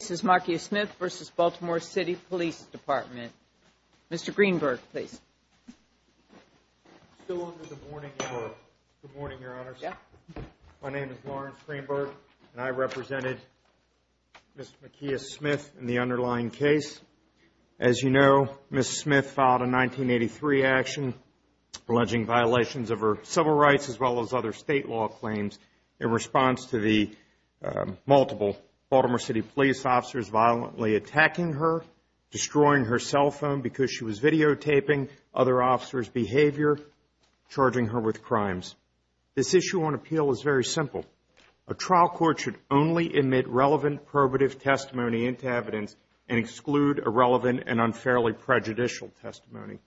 This is Makia Smith v. Baltimore City Police Department. Mr. Greenberg, please. Good morning, Your Honors. My name is Lawrence Greenberg, and I represented Ms. Makia Smith in the underlying case. As you know, Ms. Smith filed a 1983 action alleging violations of her civil rights as well as other state law claims in response to the multiple Baltimore City Police officers violently attacking her, destroying her cell phone because she was videotaping other officers' behavior, charging her with crimes. This issue on appeal is very simple. A trial court should only admit relevant probative testimony into evidence and exclude irrelevant and unfairly prejudicial testimony.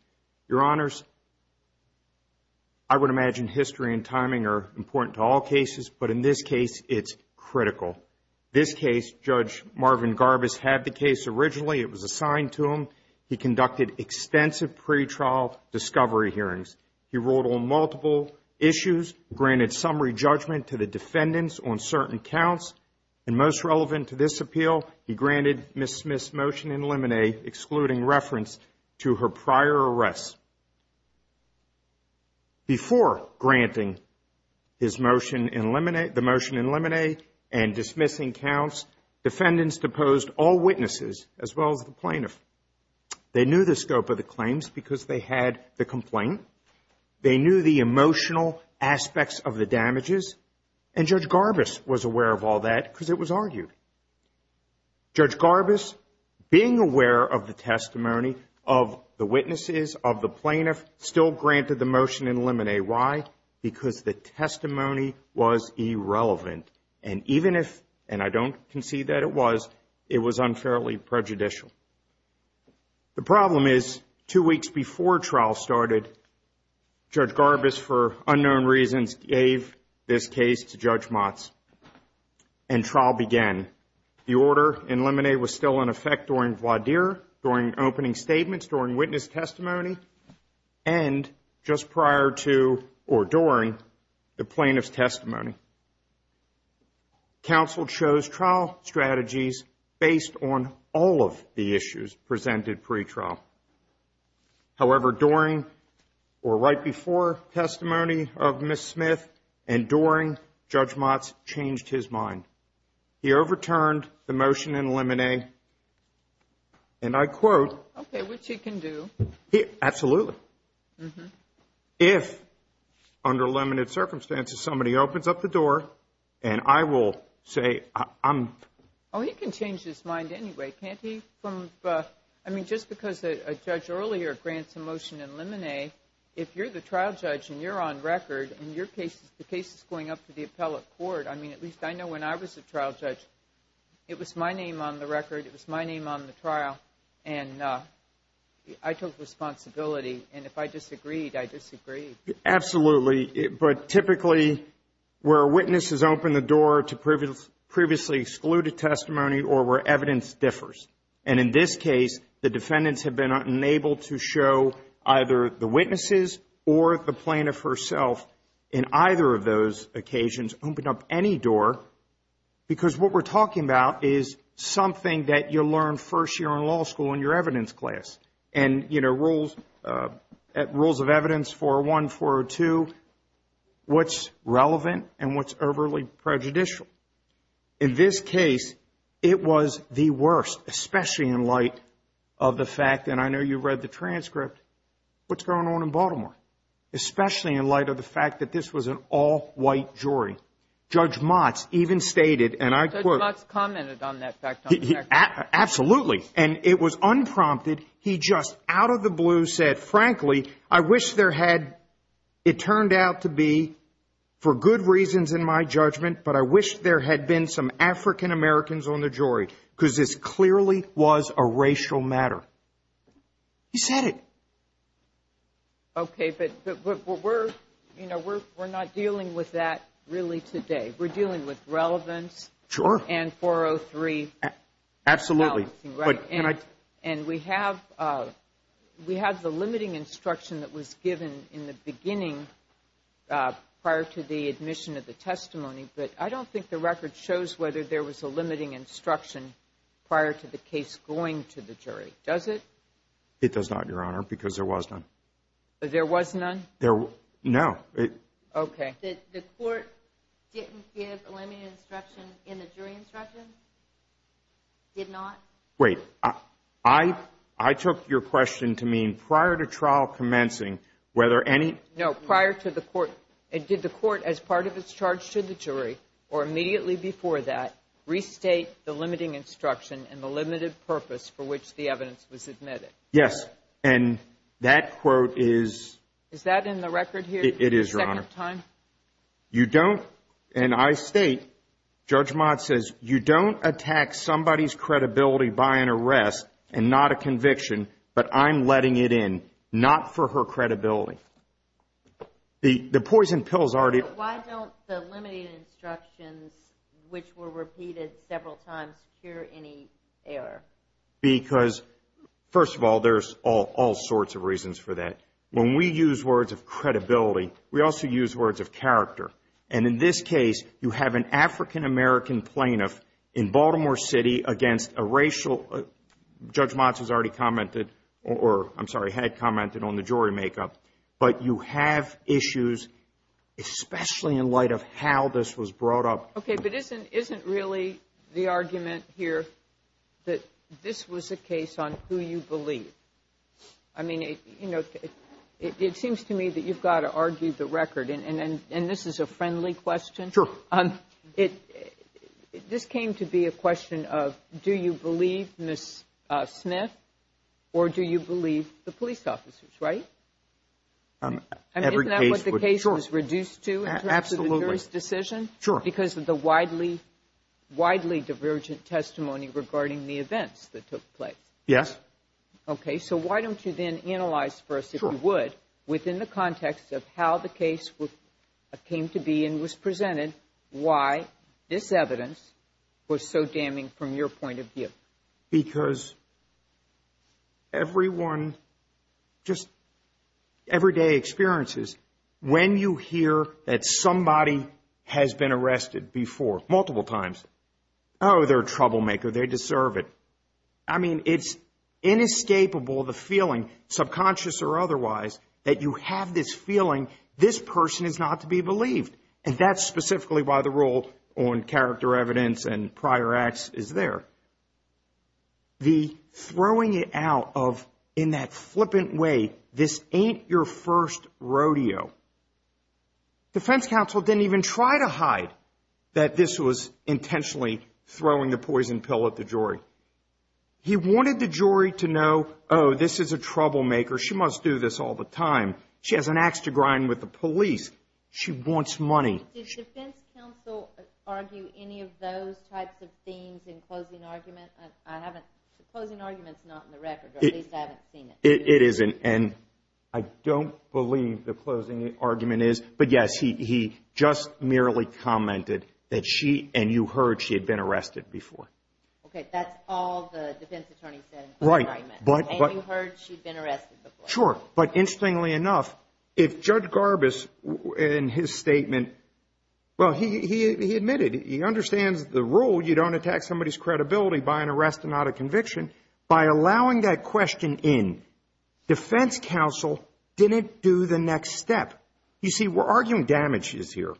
Your Honors, I would imagine history and timing are important to all cases, but in this case, it's critical. This case, Judge Marvin Garbus had the case originally. It was assigned to him. He conducted extensive pretrial discovery hearings. He ruled on multiple issues, granted summary judgment to the defendants on certain counts, and most relevant to this appeal, he granted Ms. Smith's motion in limine excluding reference to her prior arrests. Before granting his motion in limine, the motion in limine and dismissing counts, defendants deposed all witnesses as well as the plaintiff. They knew the scope of the claims because they had the complaint. They knew the emotional aspects of the damages, and Judge Garbus was aware of all that because it was argued. Judge Garbus, being aware of the testimony of the witnesses, of the plaintiff, still granted the motion in limine. Why? Because the testimony was irrelevant, and even if, and I don't concede that it was, it was unfairly prejudicial. The problem is, two weeks before trial started, Judge Garbus, for unknown reasons, gave this trial. The trial began. The order in limine was still in effect during voir dire, during opening statements, during witness testimony, and just prior to or during the plaintiff's testimony. Counsel chose trial strategies based on all of the issues presented pretrial. However, during or right before testimony of Ms. Smith and during, Judge Motz changed his mind. He overturned the motion in limine, and I quote. Okay, which he can do. Absolutely. If, under limited circumstances, somebody opens up the door, and I will say, I'm. Oh, he can change his mind anyway, can't he? I mean, just because a judge earlier grants a motion in limine, if you're the trial judge and you're on record, and your case, the case is going up to the appellate court, I mean, at least I know when I was a trial judge, it was my name on the record, it was my name on the trial, and I took responsibility, and if I disagreed, I disagreed. Absolutely. But typically, where a witness has opened the door to previously excluded testimony or where evidence differs, and in this case, the defendants have been unable to show either the witnesses or the plaintiff herself in either of those occasions open up any door because what we're talking about is something that you learn first year in law school in your evidence class, and, you know, rules of evidence 401, 402, what's relevant and what's overly prejudicial. In this case, it was the worst, especially in light of the fact, and I know you read the transcript, what's going on in Baltimore, especially in light of the fact that this was an all-white jury. Judge Motz even stated, and I quote... Judge Motz commented on that fact on record. Absolutely, and it was unprompted. He just out of the blue said, frankly, I wish there had... It turned out to be, for good reasons in my judgment, but I wish there had been some African-Americans on the jury because this clearly was a racial matter. He said it. Okay, but we're not dealing with that really today. We're dealing with relevance and 403. Sure. Absolutely. And we have the limiting instruction that was given in the beginning prior to the admission of the testimony, but I don't think the record shows whether there was a limiting instruction prior to the case going to the jury. Does it? It does not, Your Honor, because there was none. There was none? There... No. Okay. The court didn't give a limiting instruction in the jury instruction? Did not? Wait. I took your question to mean prior to trial commencing, whether any... No, prior to the court... Did the court, as part of its charge to the jury, or immediately before that, restate the limiting instruction and the limited purpose for which the evidence was admitted? Yes. And that quote is... Is that in the record here? It is, Your Honor. Second time? You don't... And I state, Judge Mott says, you don't attack somebody's credibility by an arrest and not a conviction, but I'm letting it in, not for her credibility. But why don't the limiting instructions, which were repeated several times, cure any error? Because first of all, there's all sorts of reasons for that. When we use words of credibility, we also use words of character, and in this case, you have an African-American plaintiff in Baltimore City against a racial... Judge But you have issues, especially in light of how this was brought up. Okay, but isn't really the argument here that this was a case on who you believe? I mean, it seems to me that you've got to argue the record, and this is a friendly question. Sure. This came to be a question of, do you believe Ms. Smith, or do you believe the police officers, right? I mean, isn't that what the case was reduced to in terms of the jury's decision? Because of the widely divergent testimony regarding the events that took place. Yes. Okay, so why don't you then analyze first, if you would, within the context of how the case came to be and was presented, why this evidence was so damning from your point of view? Because everyone, just everyday experiences, when you hear that somebody has been arrested before multiple times, oh, they're a troublemaker, they deserve it. I mean, it's inescapable, the feeling, subconscious or otherwise, that you have this feeling, this person is not to be believed, and that's specifically why the rule on character evidence and prior acts is there. The throwing it out of, in that flippant way, this ain't your first rodeo. Defense counsel didn't even try to hide that this was intentionally throwing the poison pill at the jury. He wanted the jury to know, oh, this is a troublemaker, she must do this all the time. She has an ax to grind with the police. She wants money. Did defense counsel argue any of those types of themes in closing argument? I haven't, closing argument's not in the record, or at least I haven't seen it. It isn't, and I don't believe the closing argument is, but yes, he just merely commented that she, and you heard, she had been arrested before. Okay, that's all the defense attorney said in the argument. And you heard she'd been arrested before. Sure, but interestingly enough, if Judge Garbus, in his statement, well, he admitted, he understands the rule, you don't attack somebody's credibility by an arrest and not a conviction. By allowing that question in, defense counsel didn't do the next step. You see, we're arguing damages here,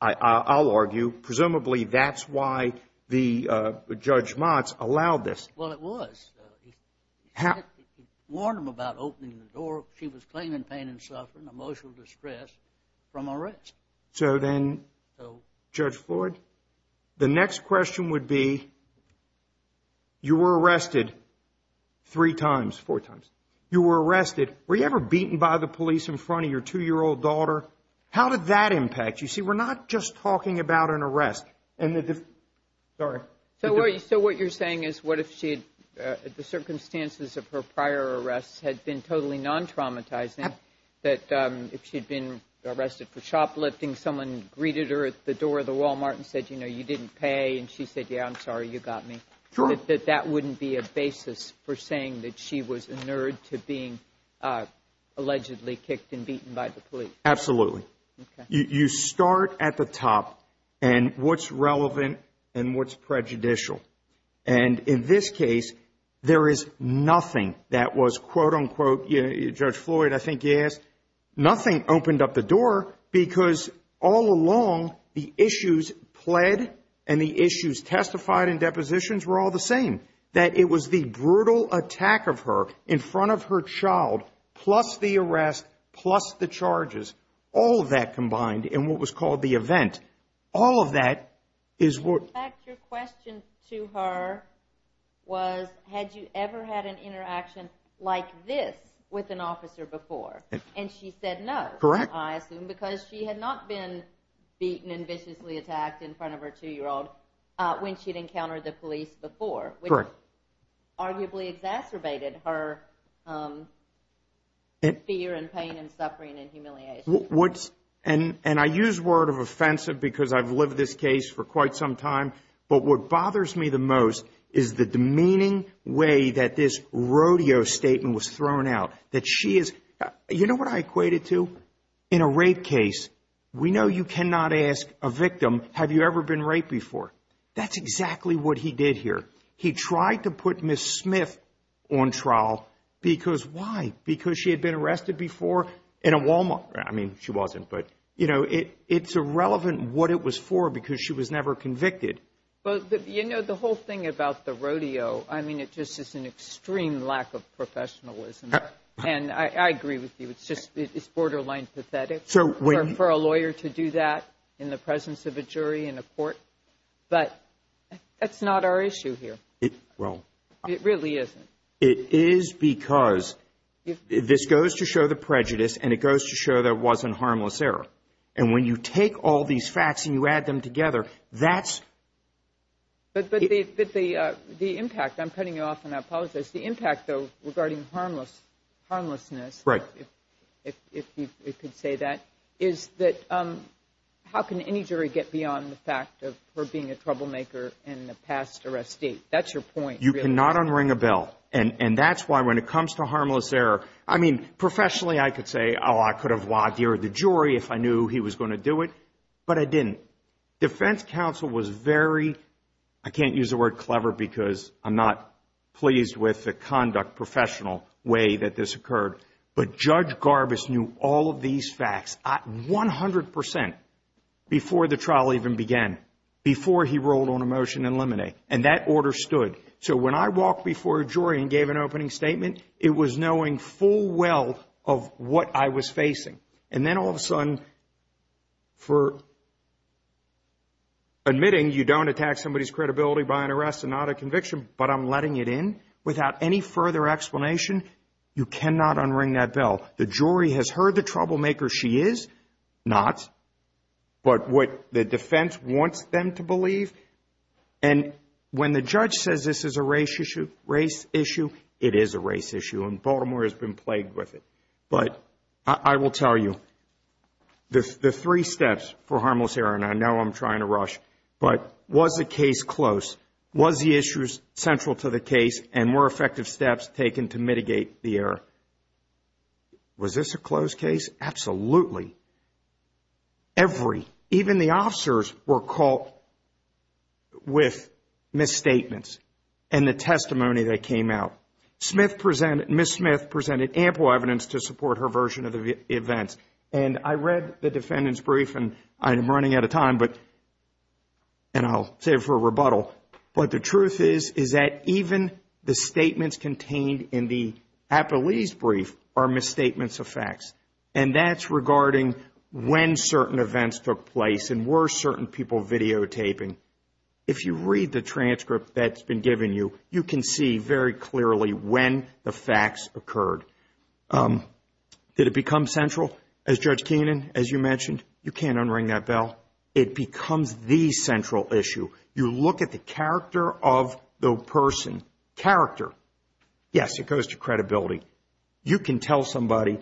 I'll argue. Presumably, that's why the Judge Motz allowed this. Well, it was. He warned him about opening the door if she was claiming pain and suffering, emotional distress, from arrest. So then, Judge Floyd, the next question would be, you were arrested three times, four times. You were arrested, were you ever beaten by the police in front of your two-year-old daughter? How did that impact? You see, we're not just talking about an arrest, and the, sorry. So what you're saying is, what if she had, the circumstances of her prior arrests had been totally non-traumatizing, that if she'd been arrested for shoplifting, someone greeted her at the door of the Walmart and said, you know, you didn't pay, and she said, yeah, I'm sorry, you got me. Sure. That that wouldn't be a basis for saying that she was inured to being allegedly kicked and beaten by the police. Absolutely. You start at the top, and what's relevant and what's prejudicial? And in this case, there is nothing that was, quote unquote, Judge Floyd, I think he asked, nothing opened up the door, because all along, the issues pled and the issues testified in depositions were all the same. That it was the brutal attack of her in front of her child, plus the arrest, plus the charges, all of that combined in what was called the event. All of that is what- In fact, your question to her was, had you ever had an interaction like this with an officer before? And she said no. Correct. I assume, because she had not been beaten and viciously attacked in front of her two-year-old when she'd encountered the police before. Correct. Which arguably exacerbated her fear and pain and suffering and humiliation. And I use word of offensive because I've lived this case for quite some time, but what bothers me the most is the demeaning way that this rodeo statement was thrown out. That she is, you know what I equate it to? In a rape case, we know you cannot ask a victim, have you ever been raped before? That's exactly what he did here. He tried to put Ms. Smith on trial because why? Because she had been arrested before in a Walmart, I mean, she wasn't, but you know, it's irrelevant what it was for because she was never convicted. But you know, the whole thing about the rodeo, I mean, it just is an extreme lack of professionalism. And I agree with you, it's just, it's borderline pathetic for a lawyer to do that in the presence of a jury in a court. But that's not our issue here. It, well. It really isn't. It is because this goes to show the prejudice and it goes to show there wasn't harmless error. And when you take all these facts and you add them together, that's. But the impact, I'm cutting you off and I apologize, the impact though regarding harmlessness. Right. If you could say that, is that how can any jury get beyond the fact of her being a troublemaker in the past arrest state? That's your point. You cannot unring a bell. And that's why when it comes to harmless error, I mean, professionally, I could say, oh, I could have lawdeered the jury if I knew he was going to do it. But I didn't. Defense counsel was very, I can't use the word clever because I'm not pleased with the conduct professional way that this occurred. But Judge Garbus knew all of these facts at 100% before the trial even began, before he rolled on a motion in limine. And that order stood. So when I walked before a jury and gave an opening statement, it was knowing full well of what I was facing. And then all of a sudden for admitting you don't attack somebody's credibility by an arrest and not a conviction, but I'm letting it in without any further explanation. You cannot unring that bell. The jury has heard the troublemaker she is, not, but what the defense wants them to believe. And when the judge says this is a race issue, it is a race issue and Baltimore has been plagued with it. But I will tell you, the three steps for harmless error, and I know I'm trying to rush, but was the case close? Was the issues central to the case and were effective steps taken to mitigate the error? Was this a closed case? Absolutely. Every, even the officers were caught with misstatements and the testimony that came out. Smith presented, Ms. Smith presented ample evidence to support her version of the events. And I read the defendant's brief and I'm running out of time, but, and I'll save it for a rebuttal. But the truth is, is that even the statements contained in the Apolyse brief are misstatements of facts. And that's regarding when certain events took place and were certain people videotaping. If you read the transcript that's been given you, you can see very clearly when the facts occurred. Did it become central as Judge Keenan, as you mentioned, you can't unring that bell. It becomes the central issue. You look at the character of the person, character, yes, it goes to credibility. You can tell somebody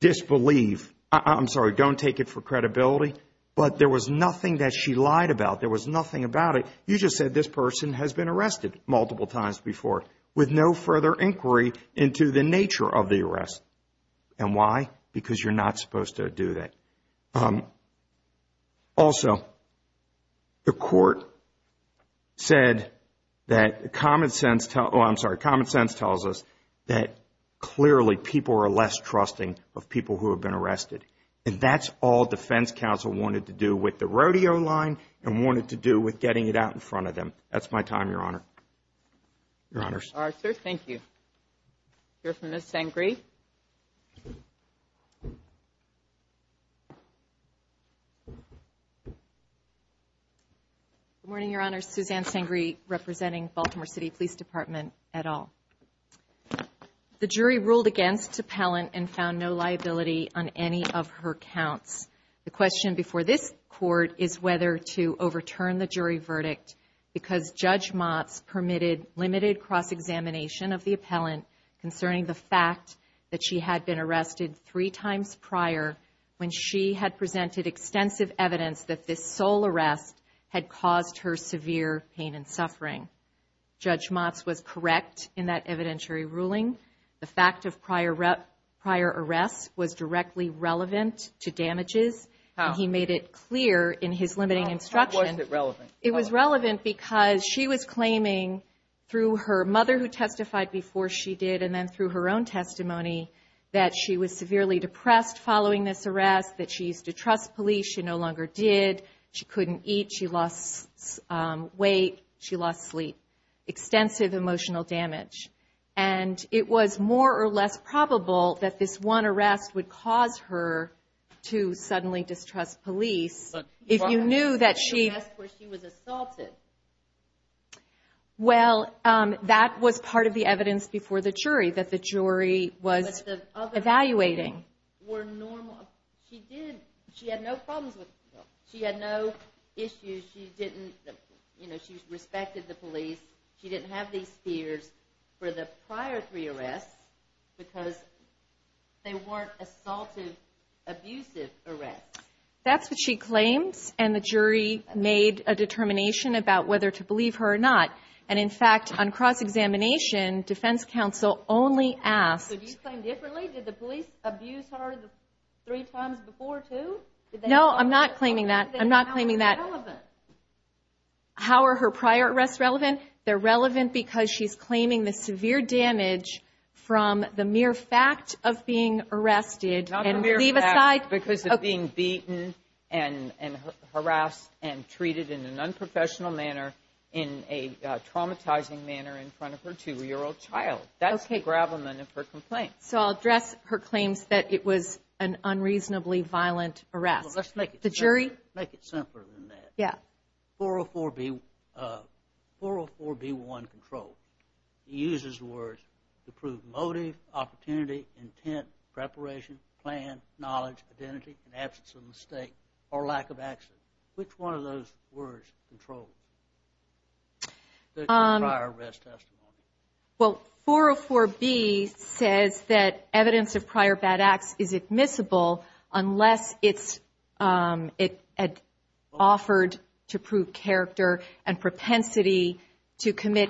disbelieve, I'm sorry, don't take it for credibility, but there was nothing that she lied about. There was nothing about it. You just said this person has been arrested multiple times before with no further inquiry into the nature of the arrest. And why? Because you're not supposed to do that. Also, the court said that common sense, I'm sorry, common sense tells us that clearly people are less trusting of people who have been arrested. And that's all defense counsel wanted to do with the rodeo line and wanted to do with getting it out in front of them. That's my time, Your Honor. Your Honors. All right, sir. Thank you. We'll hear from Ms. Sangree. Good morning, Your Honor. Suzanne Sangree representing Baltimore City Police Department et al. The jury ruled against Tappellant and found no liability on any of her counts. The question before this court is whether to overturn the jury verdict because Judge concerning the fact that she had been arrested three times prior when she had presented extensive evidence that this sole arrest had caused her severe pain and suffering. Judge Motz was correct in that evidentiary ruling. The fact of prior arrest was directly relevant to damages. He made it clear in his limiting instruction. It was relevant because she was claiming through her mother who testified before she did and then through her own testimony that she was severely depressed following this arrest, that she used to trust police, she no longer did, she couldn't eat, she lost weight, she lost sleep, extensive emotional damage. And it was more or less probable that this one arrest would cause her to suddenly distrust police if you knew that she was assaulted. Well, that was part of the evidence before the jury that the jury was evaluating. Were normal. She did. She had no problems. She had no issues. She didn't, you know, she respected the police. She didn't have these fears for the prior three arrests because they weren't assaulted abusive arrests. That's what she claims. And the jury made a determination about whether to believe her or not. And in fact, on cross-examination, defense counsel only asked. Did you claim differently? Did the police abuse her three times before too? No, I'm not claiming that. I'm not claiming that. How are they relevant? How are her prior arrests relevant? They're relevant because she's claiming the severe damage from the mere fact of being beaten and harassed and treated in an unprofessional manner in a traumatizing manner in front of her two-year-old child. That's the gravamen of her complaint. So I'll address her claims that it was an unreasonably violent arrest. Well, let's make it simpler. The jury? Make it simpler than that. Yeah. 404B1 control. It uses words to prove motive, opportunity, intent, preparation, plan, knowledge, identity, and absence of mistake or lack of action. Which one of those words controls the prior arrest testimony? Well, 404B says that evidence of prior bad acts is admissible unless it's offered to prove character and propensity to claim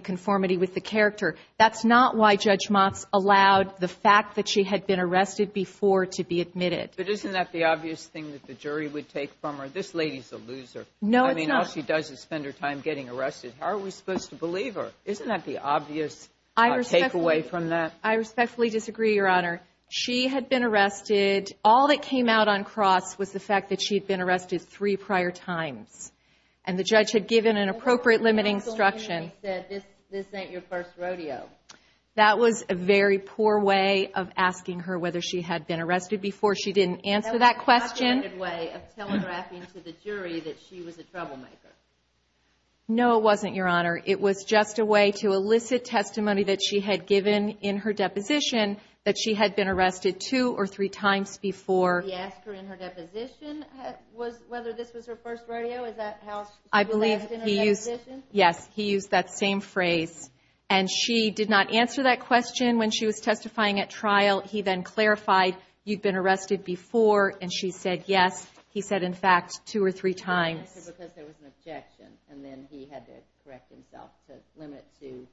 conformity with the character. That's not why Judge Motz allowed the fact that she had been arrested before to be admitted. But isn't that the obvious thing that the jury would take from her? This lady's a loser. No, it's not. I mean, all she does is spend her time getting arrested. How are we supposed to believe her? Isn't that the obvious takeaway from that? I respectfully disagree, Your Honor. She had been arrested. All that came out on cross was the fact that she had been arrested three prior times, and the judge had given an appropriate limiting instruction. And he said, this ain't your first rodeo. That was a very poor way of asking her whether she had been arrested before. She didn't answer that question. That was a complicated way of telegraphing to the jury that she was a troublemaker. No, it wasn't, Your Honor. It was just a way to elicit testimony that she had given in her deposition that she had been arrested two or three times before. He asked her in her deposition whether this was her first rodeo. Is that how she was asked in her deposition? Yes. He used that same phrase. And she did not answer that question when she was testifying at trial. He then clarified, you've been arrested before, and she said, yes. He said, in fact, two or three times. He didn't answer because there was an objection, and then he had to correct himself to limit to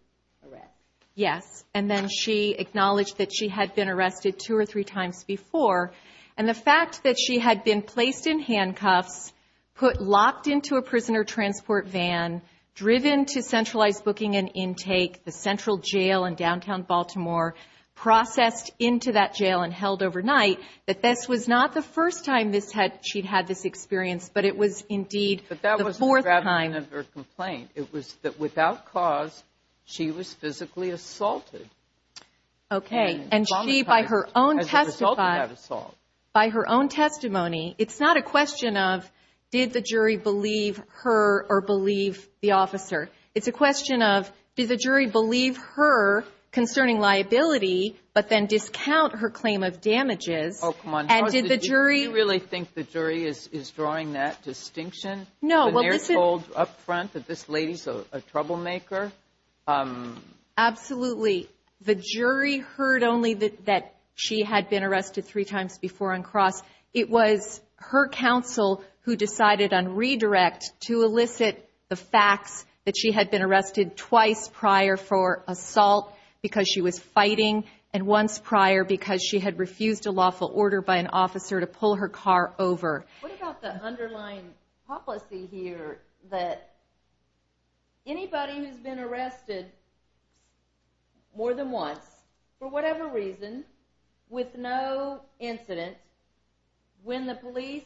arrest. Yes. And then she acknowledged that she had been arrested two or three times before. And the fact that she had been placed in handcuffs, put locked into a prisoner transport van, driven to centralized booking and intake, the central jail in downtown Baltimore, processed into that jail and held overnight, that this was not the first time she'd had this experience, but it was indeed the fourth time. But that was the gravitation of her complaint. It was that without cause she was physically assaulted. Okay. And she, by her own testimony, it's not a question of did the jury believe her or believe the officer. It's a question of did the jury believe her concerning liability but then discount her claim of damages? Oh, come on. And did the jury – Do you really think the jury is drawing that distinction? No. When they're told up front that this lady's a troublemaker? Absolutely. The jury heard only that she had been arrested three times before on cross. It was her counsel who decided on redirect to elicit the facts that she had been arrested twice prior for assault because she was fighting and once prior because she had refused a lawful order by an officer to pull her car over. What about the underlying policy here that anybody who's been arrested more than once, for whatever reason, with no incident, when the police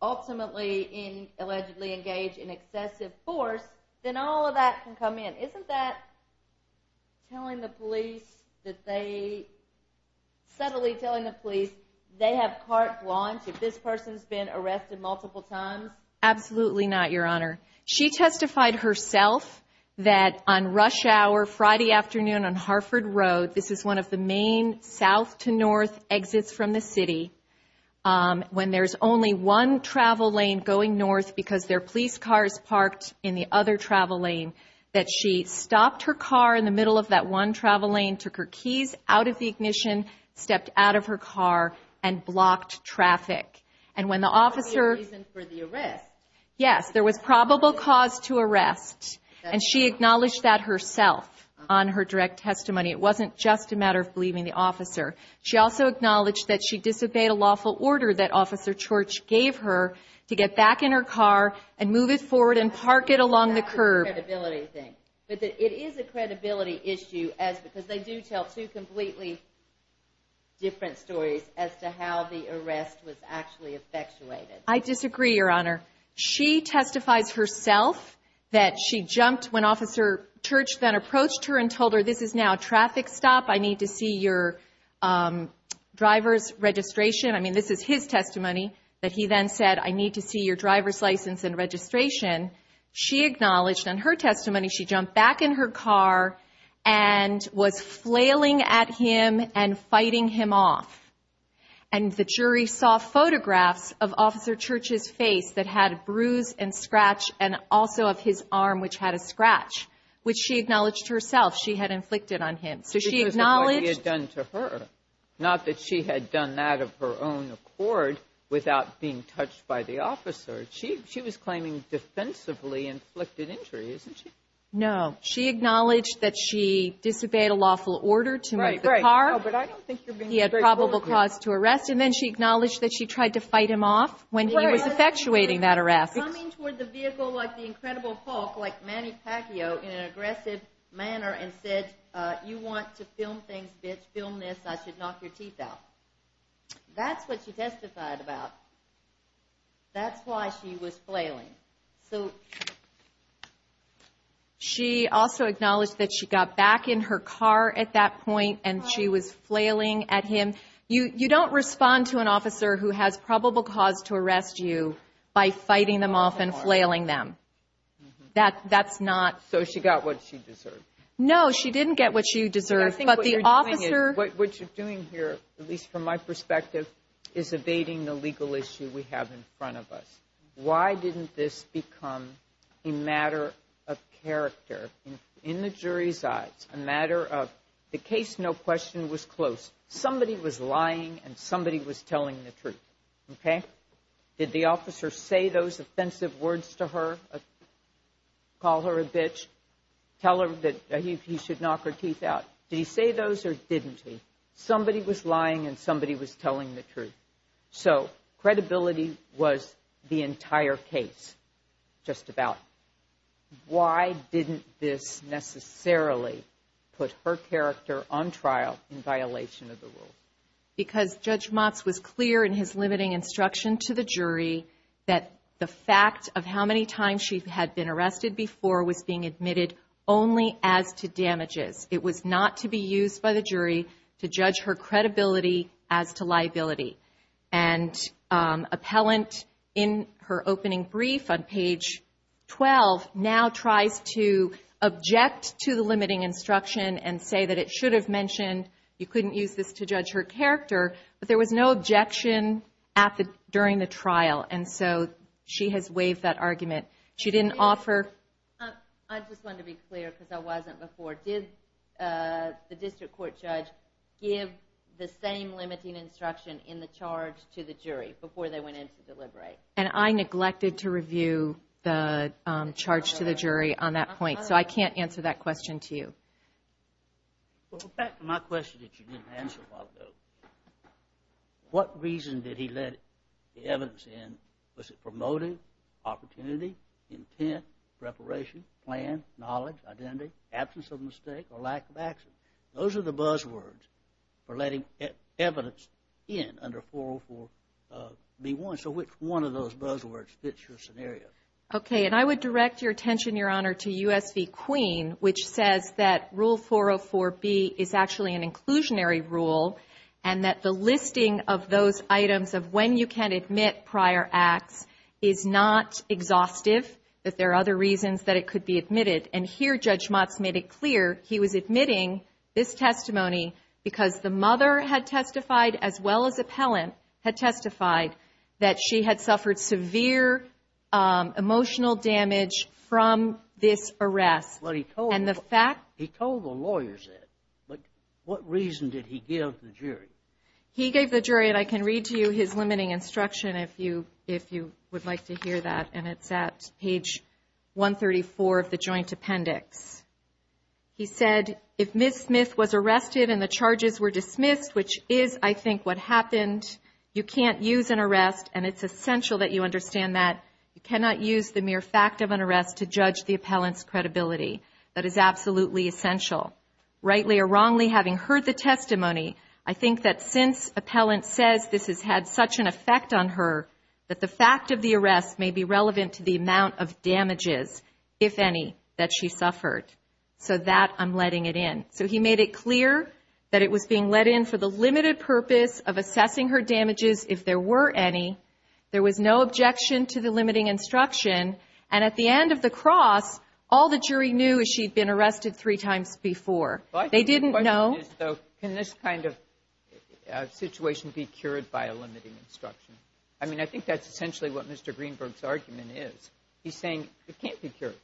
ultimately allegedly engage in excessive force, then all of that can come in. Isn't that telling the police that they – subtly telling the police they have carte blanche if this person's been arrested multiple times? Absolutely not, Your Honor. She testified herself that on rush hour Friday afternoon on Harford Road – this is one of the main south to north exits from the city – when there's only one travel lane going north because their police car is parked in the other travel lane, that she stopped her car in the middle of that one travel lane, took her keys out of the ignition, stepped out of her car, and blocked traffic. And when the officer – For the arrest. Yes. There was probable cause to arrest. And she acknowledged that herself on her direct testimony. It wasn't just a matter of believing the officer. She also acknowledged that she disobeyed a lawful order that Officer Church gave her to get back in her car and move it forward and park it along the curb. That's a credibility thing. But it is a credibility issue as – because they do tell two completely different stories as to how the arrest was actually effectuated. I disagree, Your Honor. She testifies herself that she jumped when Officer Church then approached her and told her, this is now a traffic stop. I need to see your driver's registration. I mean, this is his testimony that he then said, I need to see your driver's license and registration. She acknowledged on her testimony she jumped back in her car and was flailing at him and fighting him off. And the jury saw photographs of Officer Church's face that had a bruise and scratch and also of his arm, which had a scratch, which she acknowledged herself. She had inflicted on him. So she acknowledged – Because of what he had done to her, not that she had done that of her own accord without being touched by the officer. She was claiming defensively inflicted injury, isn't she? No. She acknowledged that she disobeyed a lawful order to move the car. Right, right. No, but I don't think you're being – He had probable cause to arrest. And then she acknowledged that she tried to fight him off when he was effectuating that arrest. She was coming toward the vehicle like the Incredible Hulk, like Manny Pacquiao, in an aggressive manner and said, you want to film things, bitch, film this, I should knock your teeth out. That's what she testified about. That's why she was flailing. She also acknowledged that she got back in her car at that point and she was flailing at him. You don't respond to an officer who has probable cause to arrest you by fighting them off and flailing them. That's not – So she got what she deserved. No, she didn't get what she deserved. But the officer – What you're doing here, at least from my perspective, is evading the legal issue we have in front of us. Why didn't this become a matter of character in the jury's eyes, a matter of – the case, no question, was close. Somebody was lying and somebody was telling the truth, okay? Did the officer say those offensive words to her, call her a bitch, tell her that he should knock her teeth out? Did he say those or didn't he? Somebody was lying and somebody was telling the truth. So credibility was the entire case, just about. Why didn't this necessarily put her character on trial in violation of the rules? Because Judge Motz was clear in his limiting instruction to the jury that the fact of how many times she had been arrested before was being admitted only as to damages. It was not to be used by the jury to judge her credibility as to liability. And appellant in her opening brief on page 12 now tries to object to the limiting instruction and say that it should have mentioned you couldn't use this to judge her character, but there was no objection during the trial, and so she has waived that argument. She didn't offer – I just wanted to be clear because I wasn't before. Did the district court judge give the same limiting instruction in the charge to the jury before they went in to deliberate? And I neglected to review the charge to the jury on that point, so I can't answer that question to you. Well, back to my question that you didn't answer a while ago. What reason did he let the evidence in? Was it promoting, opportunity, intent, preparation, plan, knowledge, identity, absence of mistake, or lack of access? Those are the buzzwords for letting evidence in under 404B1. So which one of those buzzwords fits your scenario? Okay, and I would direct your attention, Your Honor, to U.S. v. Queen, which says that Rule 404B is actually an inclusionary rule and that the listing of those items of when you can admit prior acts is not exhaustive, that there are other reasons that it could be admitted. And here Judge Motz made it clear he was admitting this testimony because the mother had testified, as well as appellant, had testified that she had suffered severe emotional damage from this arrest. Well, he told the lawyers that, but what reason did he give the jury? He gave the jury, and I can read to you his limiting instruction if you would like to hear that, and it's at page 134 of the joint appendix. He said, if Ms. Smith was arrested and the charges were dismissed, which is, I think, what happened, you can't use an arrest, and it's essential that you understand that. You cannot use the mere fact of an arrest to judge the appellant's credibility. That is absolutely essential. Rightly or wrongly, having heard the testimony, I think that since appellant says this has had such an effect on her, that the fact of the arrest may be relevant to the amount of damages, if any, that she suffered. So that I'm letting it in. So he made it clear that it was being let in for the limited purpose of assessing her damages if there were any. There was no objection to the limiting instruction, and at the end of the cross, all the jury knew is she'd been arrested three times before. They didn't know. Can this kind of situation be cured by a limiting instruction? I mean, I think that's essentially what Mr. Greenberg's argument is. He's saying it can't be cured.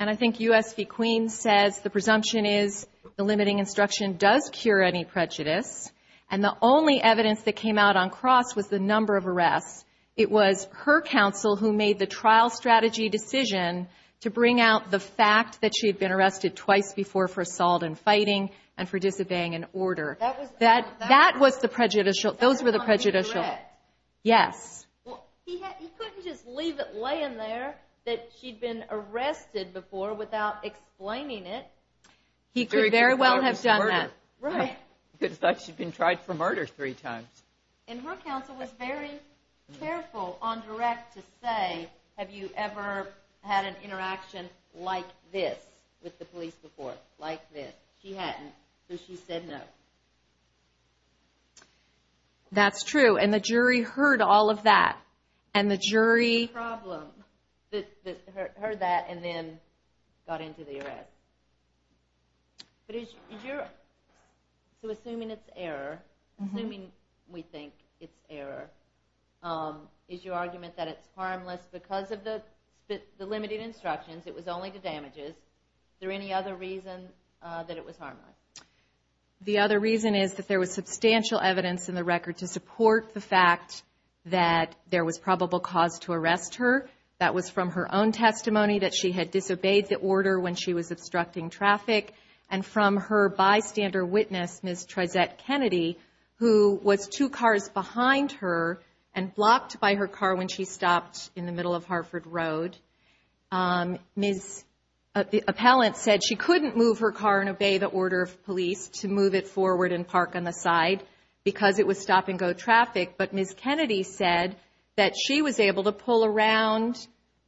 And I think U.S. v. Queens says the presumption is the limiting instruction does cure any prejudice, and the only evidence that came out on cross was the number of arrests. It was her counsel who made the trial strategy decision to bring out the fact that she had been arrested twice before for assault and fighting and for disobeying an order. That was the prejudicial. Those were the prejudicial. Yes. He couldn't just leave it laying there that she'd been arrested before without explaining it. He could very well have done that. Right. He could have thought she'd been tried for murder three times. And her counsel was very careful on direct to say, have you ever had an interaction like this with the police before, like this? She hadn't, so she said no. That's true, and the jury heard all of that, and the jury heard that and then got into the arrest. So assuming it's error, assuming we think it's error, is your argument that it's harmless because of the limited instructions, it was only the damages, is there any other reason that it was harmless? The other reason is that there was substantial evidence in the record to support the fact that there was probable cause to arrest her. That was from her own testimony, that she had disobeyed the order when she was obstructing traffic, and from her bystander witness, Ms. Trezette Kennedy, who was two cars behind her and blocked by her car when she stopped in the middle of Hartford Road. Ms. Appellant said she couldn't move her car and obey the order of police to move it forward and park on the side because it was stop-and-go traffic, but Ms. Kennedy said that she was able to pull around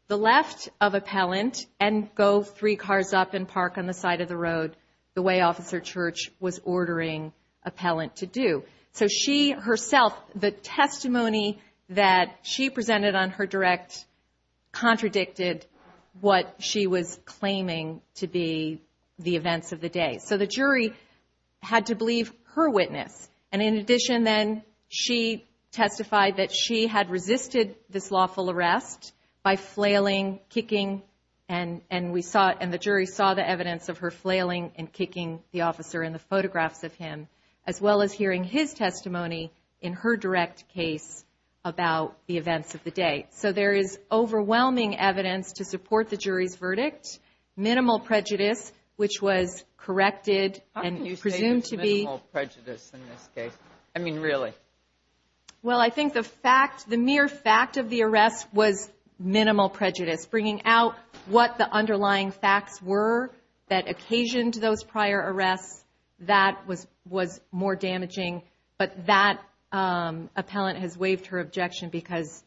the left of Appellant and go three cars up and park on the side of the road the way Officer Church was ordering Appellant to do. So she herself, the testimony that she presented on her direct contradicted what she was claiming to be the events of the day. So the jury had to believe her witness. And in addition, then, she testified that she had resisted this lawful arrest by flailing, kicking, and the jury saw the evidence of her flailing and kicking the officer in the photographs of him, as well as hearing his testimony in her direct case about the events of the day. So there is overwhelming evidence to support the jury's verdict. Minimal prejudice, which was corrected and presumed to be- How can you say there's minimal prejudice in this case? I mean, really? Well, I think the mere fact of the arrest was minimal prejudice, bringing out what the underlying facts were that occasioned those prior arrests. That was more damaging. But that Appellant has waived her objection because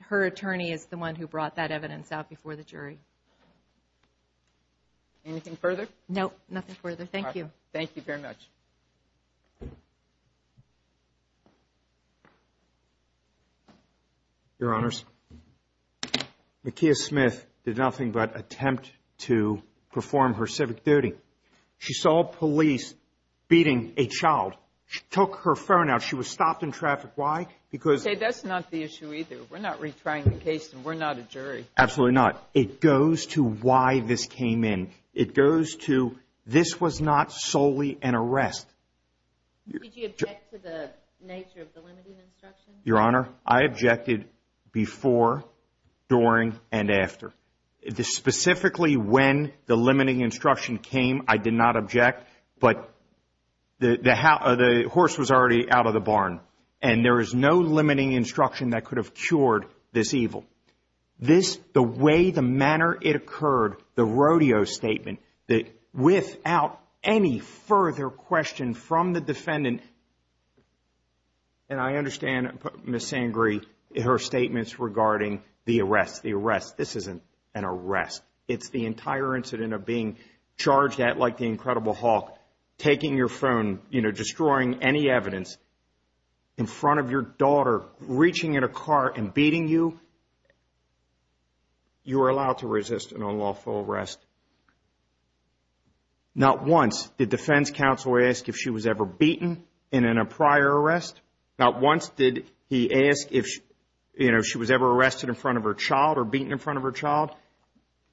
her attorney is the one who brought that evidence out before the jury. Anything further? No, nothing further. Thank you. Thank you very much. Your Honors, McKea Smith did nothing but attempt to perform her civic duty. She saw police beating a child. She took her phone out. She was stopped in traffic. Why? Because- Say, that's not the issue either. We're not retrying the case, and we're not a jury. Absolutely not. It goes to why this came in. It goes to this was not solely an arrest. Did you object to the nature of the limiting instruction? Your Honor, I objected before, during, and after. Specifically when the limiting instruction came, I did not object. But the horse was already out of the barn, and there is no limiting instruction that could have cured this evil. The way, the manner it occurred, the rodeo statement, without any further question from the defendant, and I understand Ms. Sangree, her statements regarding the arrest. The arrest, this isn't an arrest. It's the entire incident of being charged at like the Incredible Hawk, taking your phone, you know, destroying any evidence, in front of your daughter, reaching in a car and beating you. You are allowed to resist an unlawful arrest. Not once did defense counsel ask if she was ever beaten in a prior arrest. Not once did he ask if, you know, she was ever arrested in front of her child or beaten in front of her child.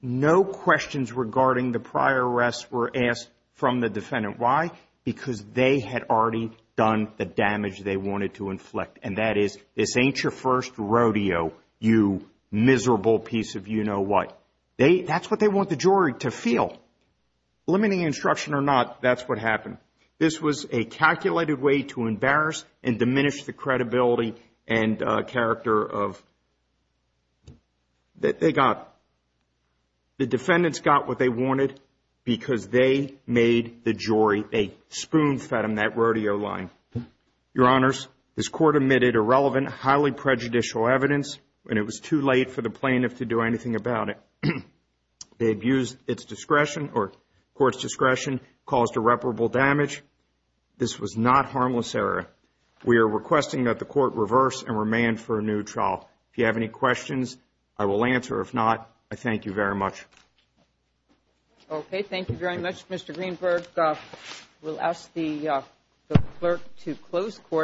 No questions regarding the prior arrest were asked from the defendant. Why? Because they had already done the damage they wanted to inflict, and that is, this ain't your first rodeo, you miserable piece of you-know-what. They, that's what they want the jury to feel. Limiting instruction or not, that's what happened. This was a calculated way to embarrass and diminish the credibility and character of, that they got. The defendants got what they wanted because they made the jury a spoon-fed them that rodeo line. Your Honors, this court admitted irrelevant, highly prejudicial evidence, and it was too late for the plaintiff to do anything about it. They abused its discretion, or court's discretion, caused irreparable damage. This was not harmless error. We are requesting that the court reverse and remand for a new trial. If you have any questions, I will answer. If not, I thank you very much. Okay, thank you very much, Mr. Greenberg. We'll ask the clerk to close court.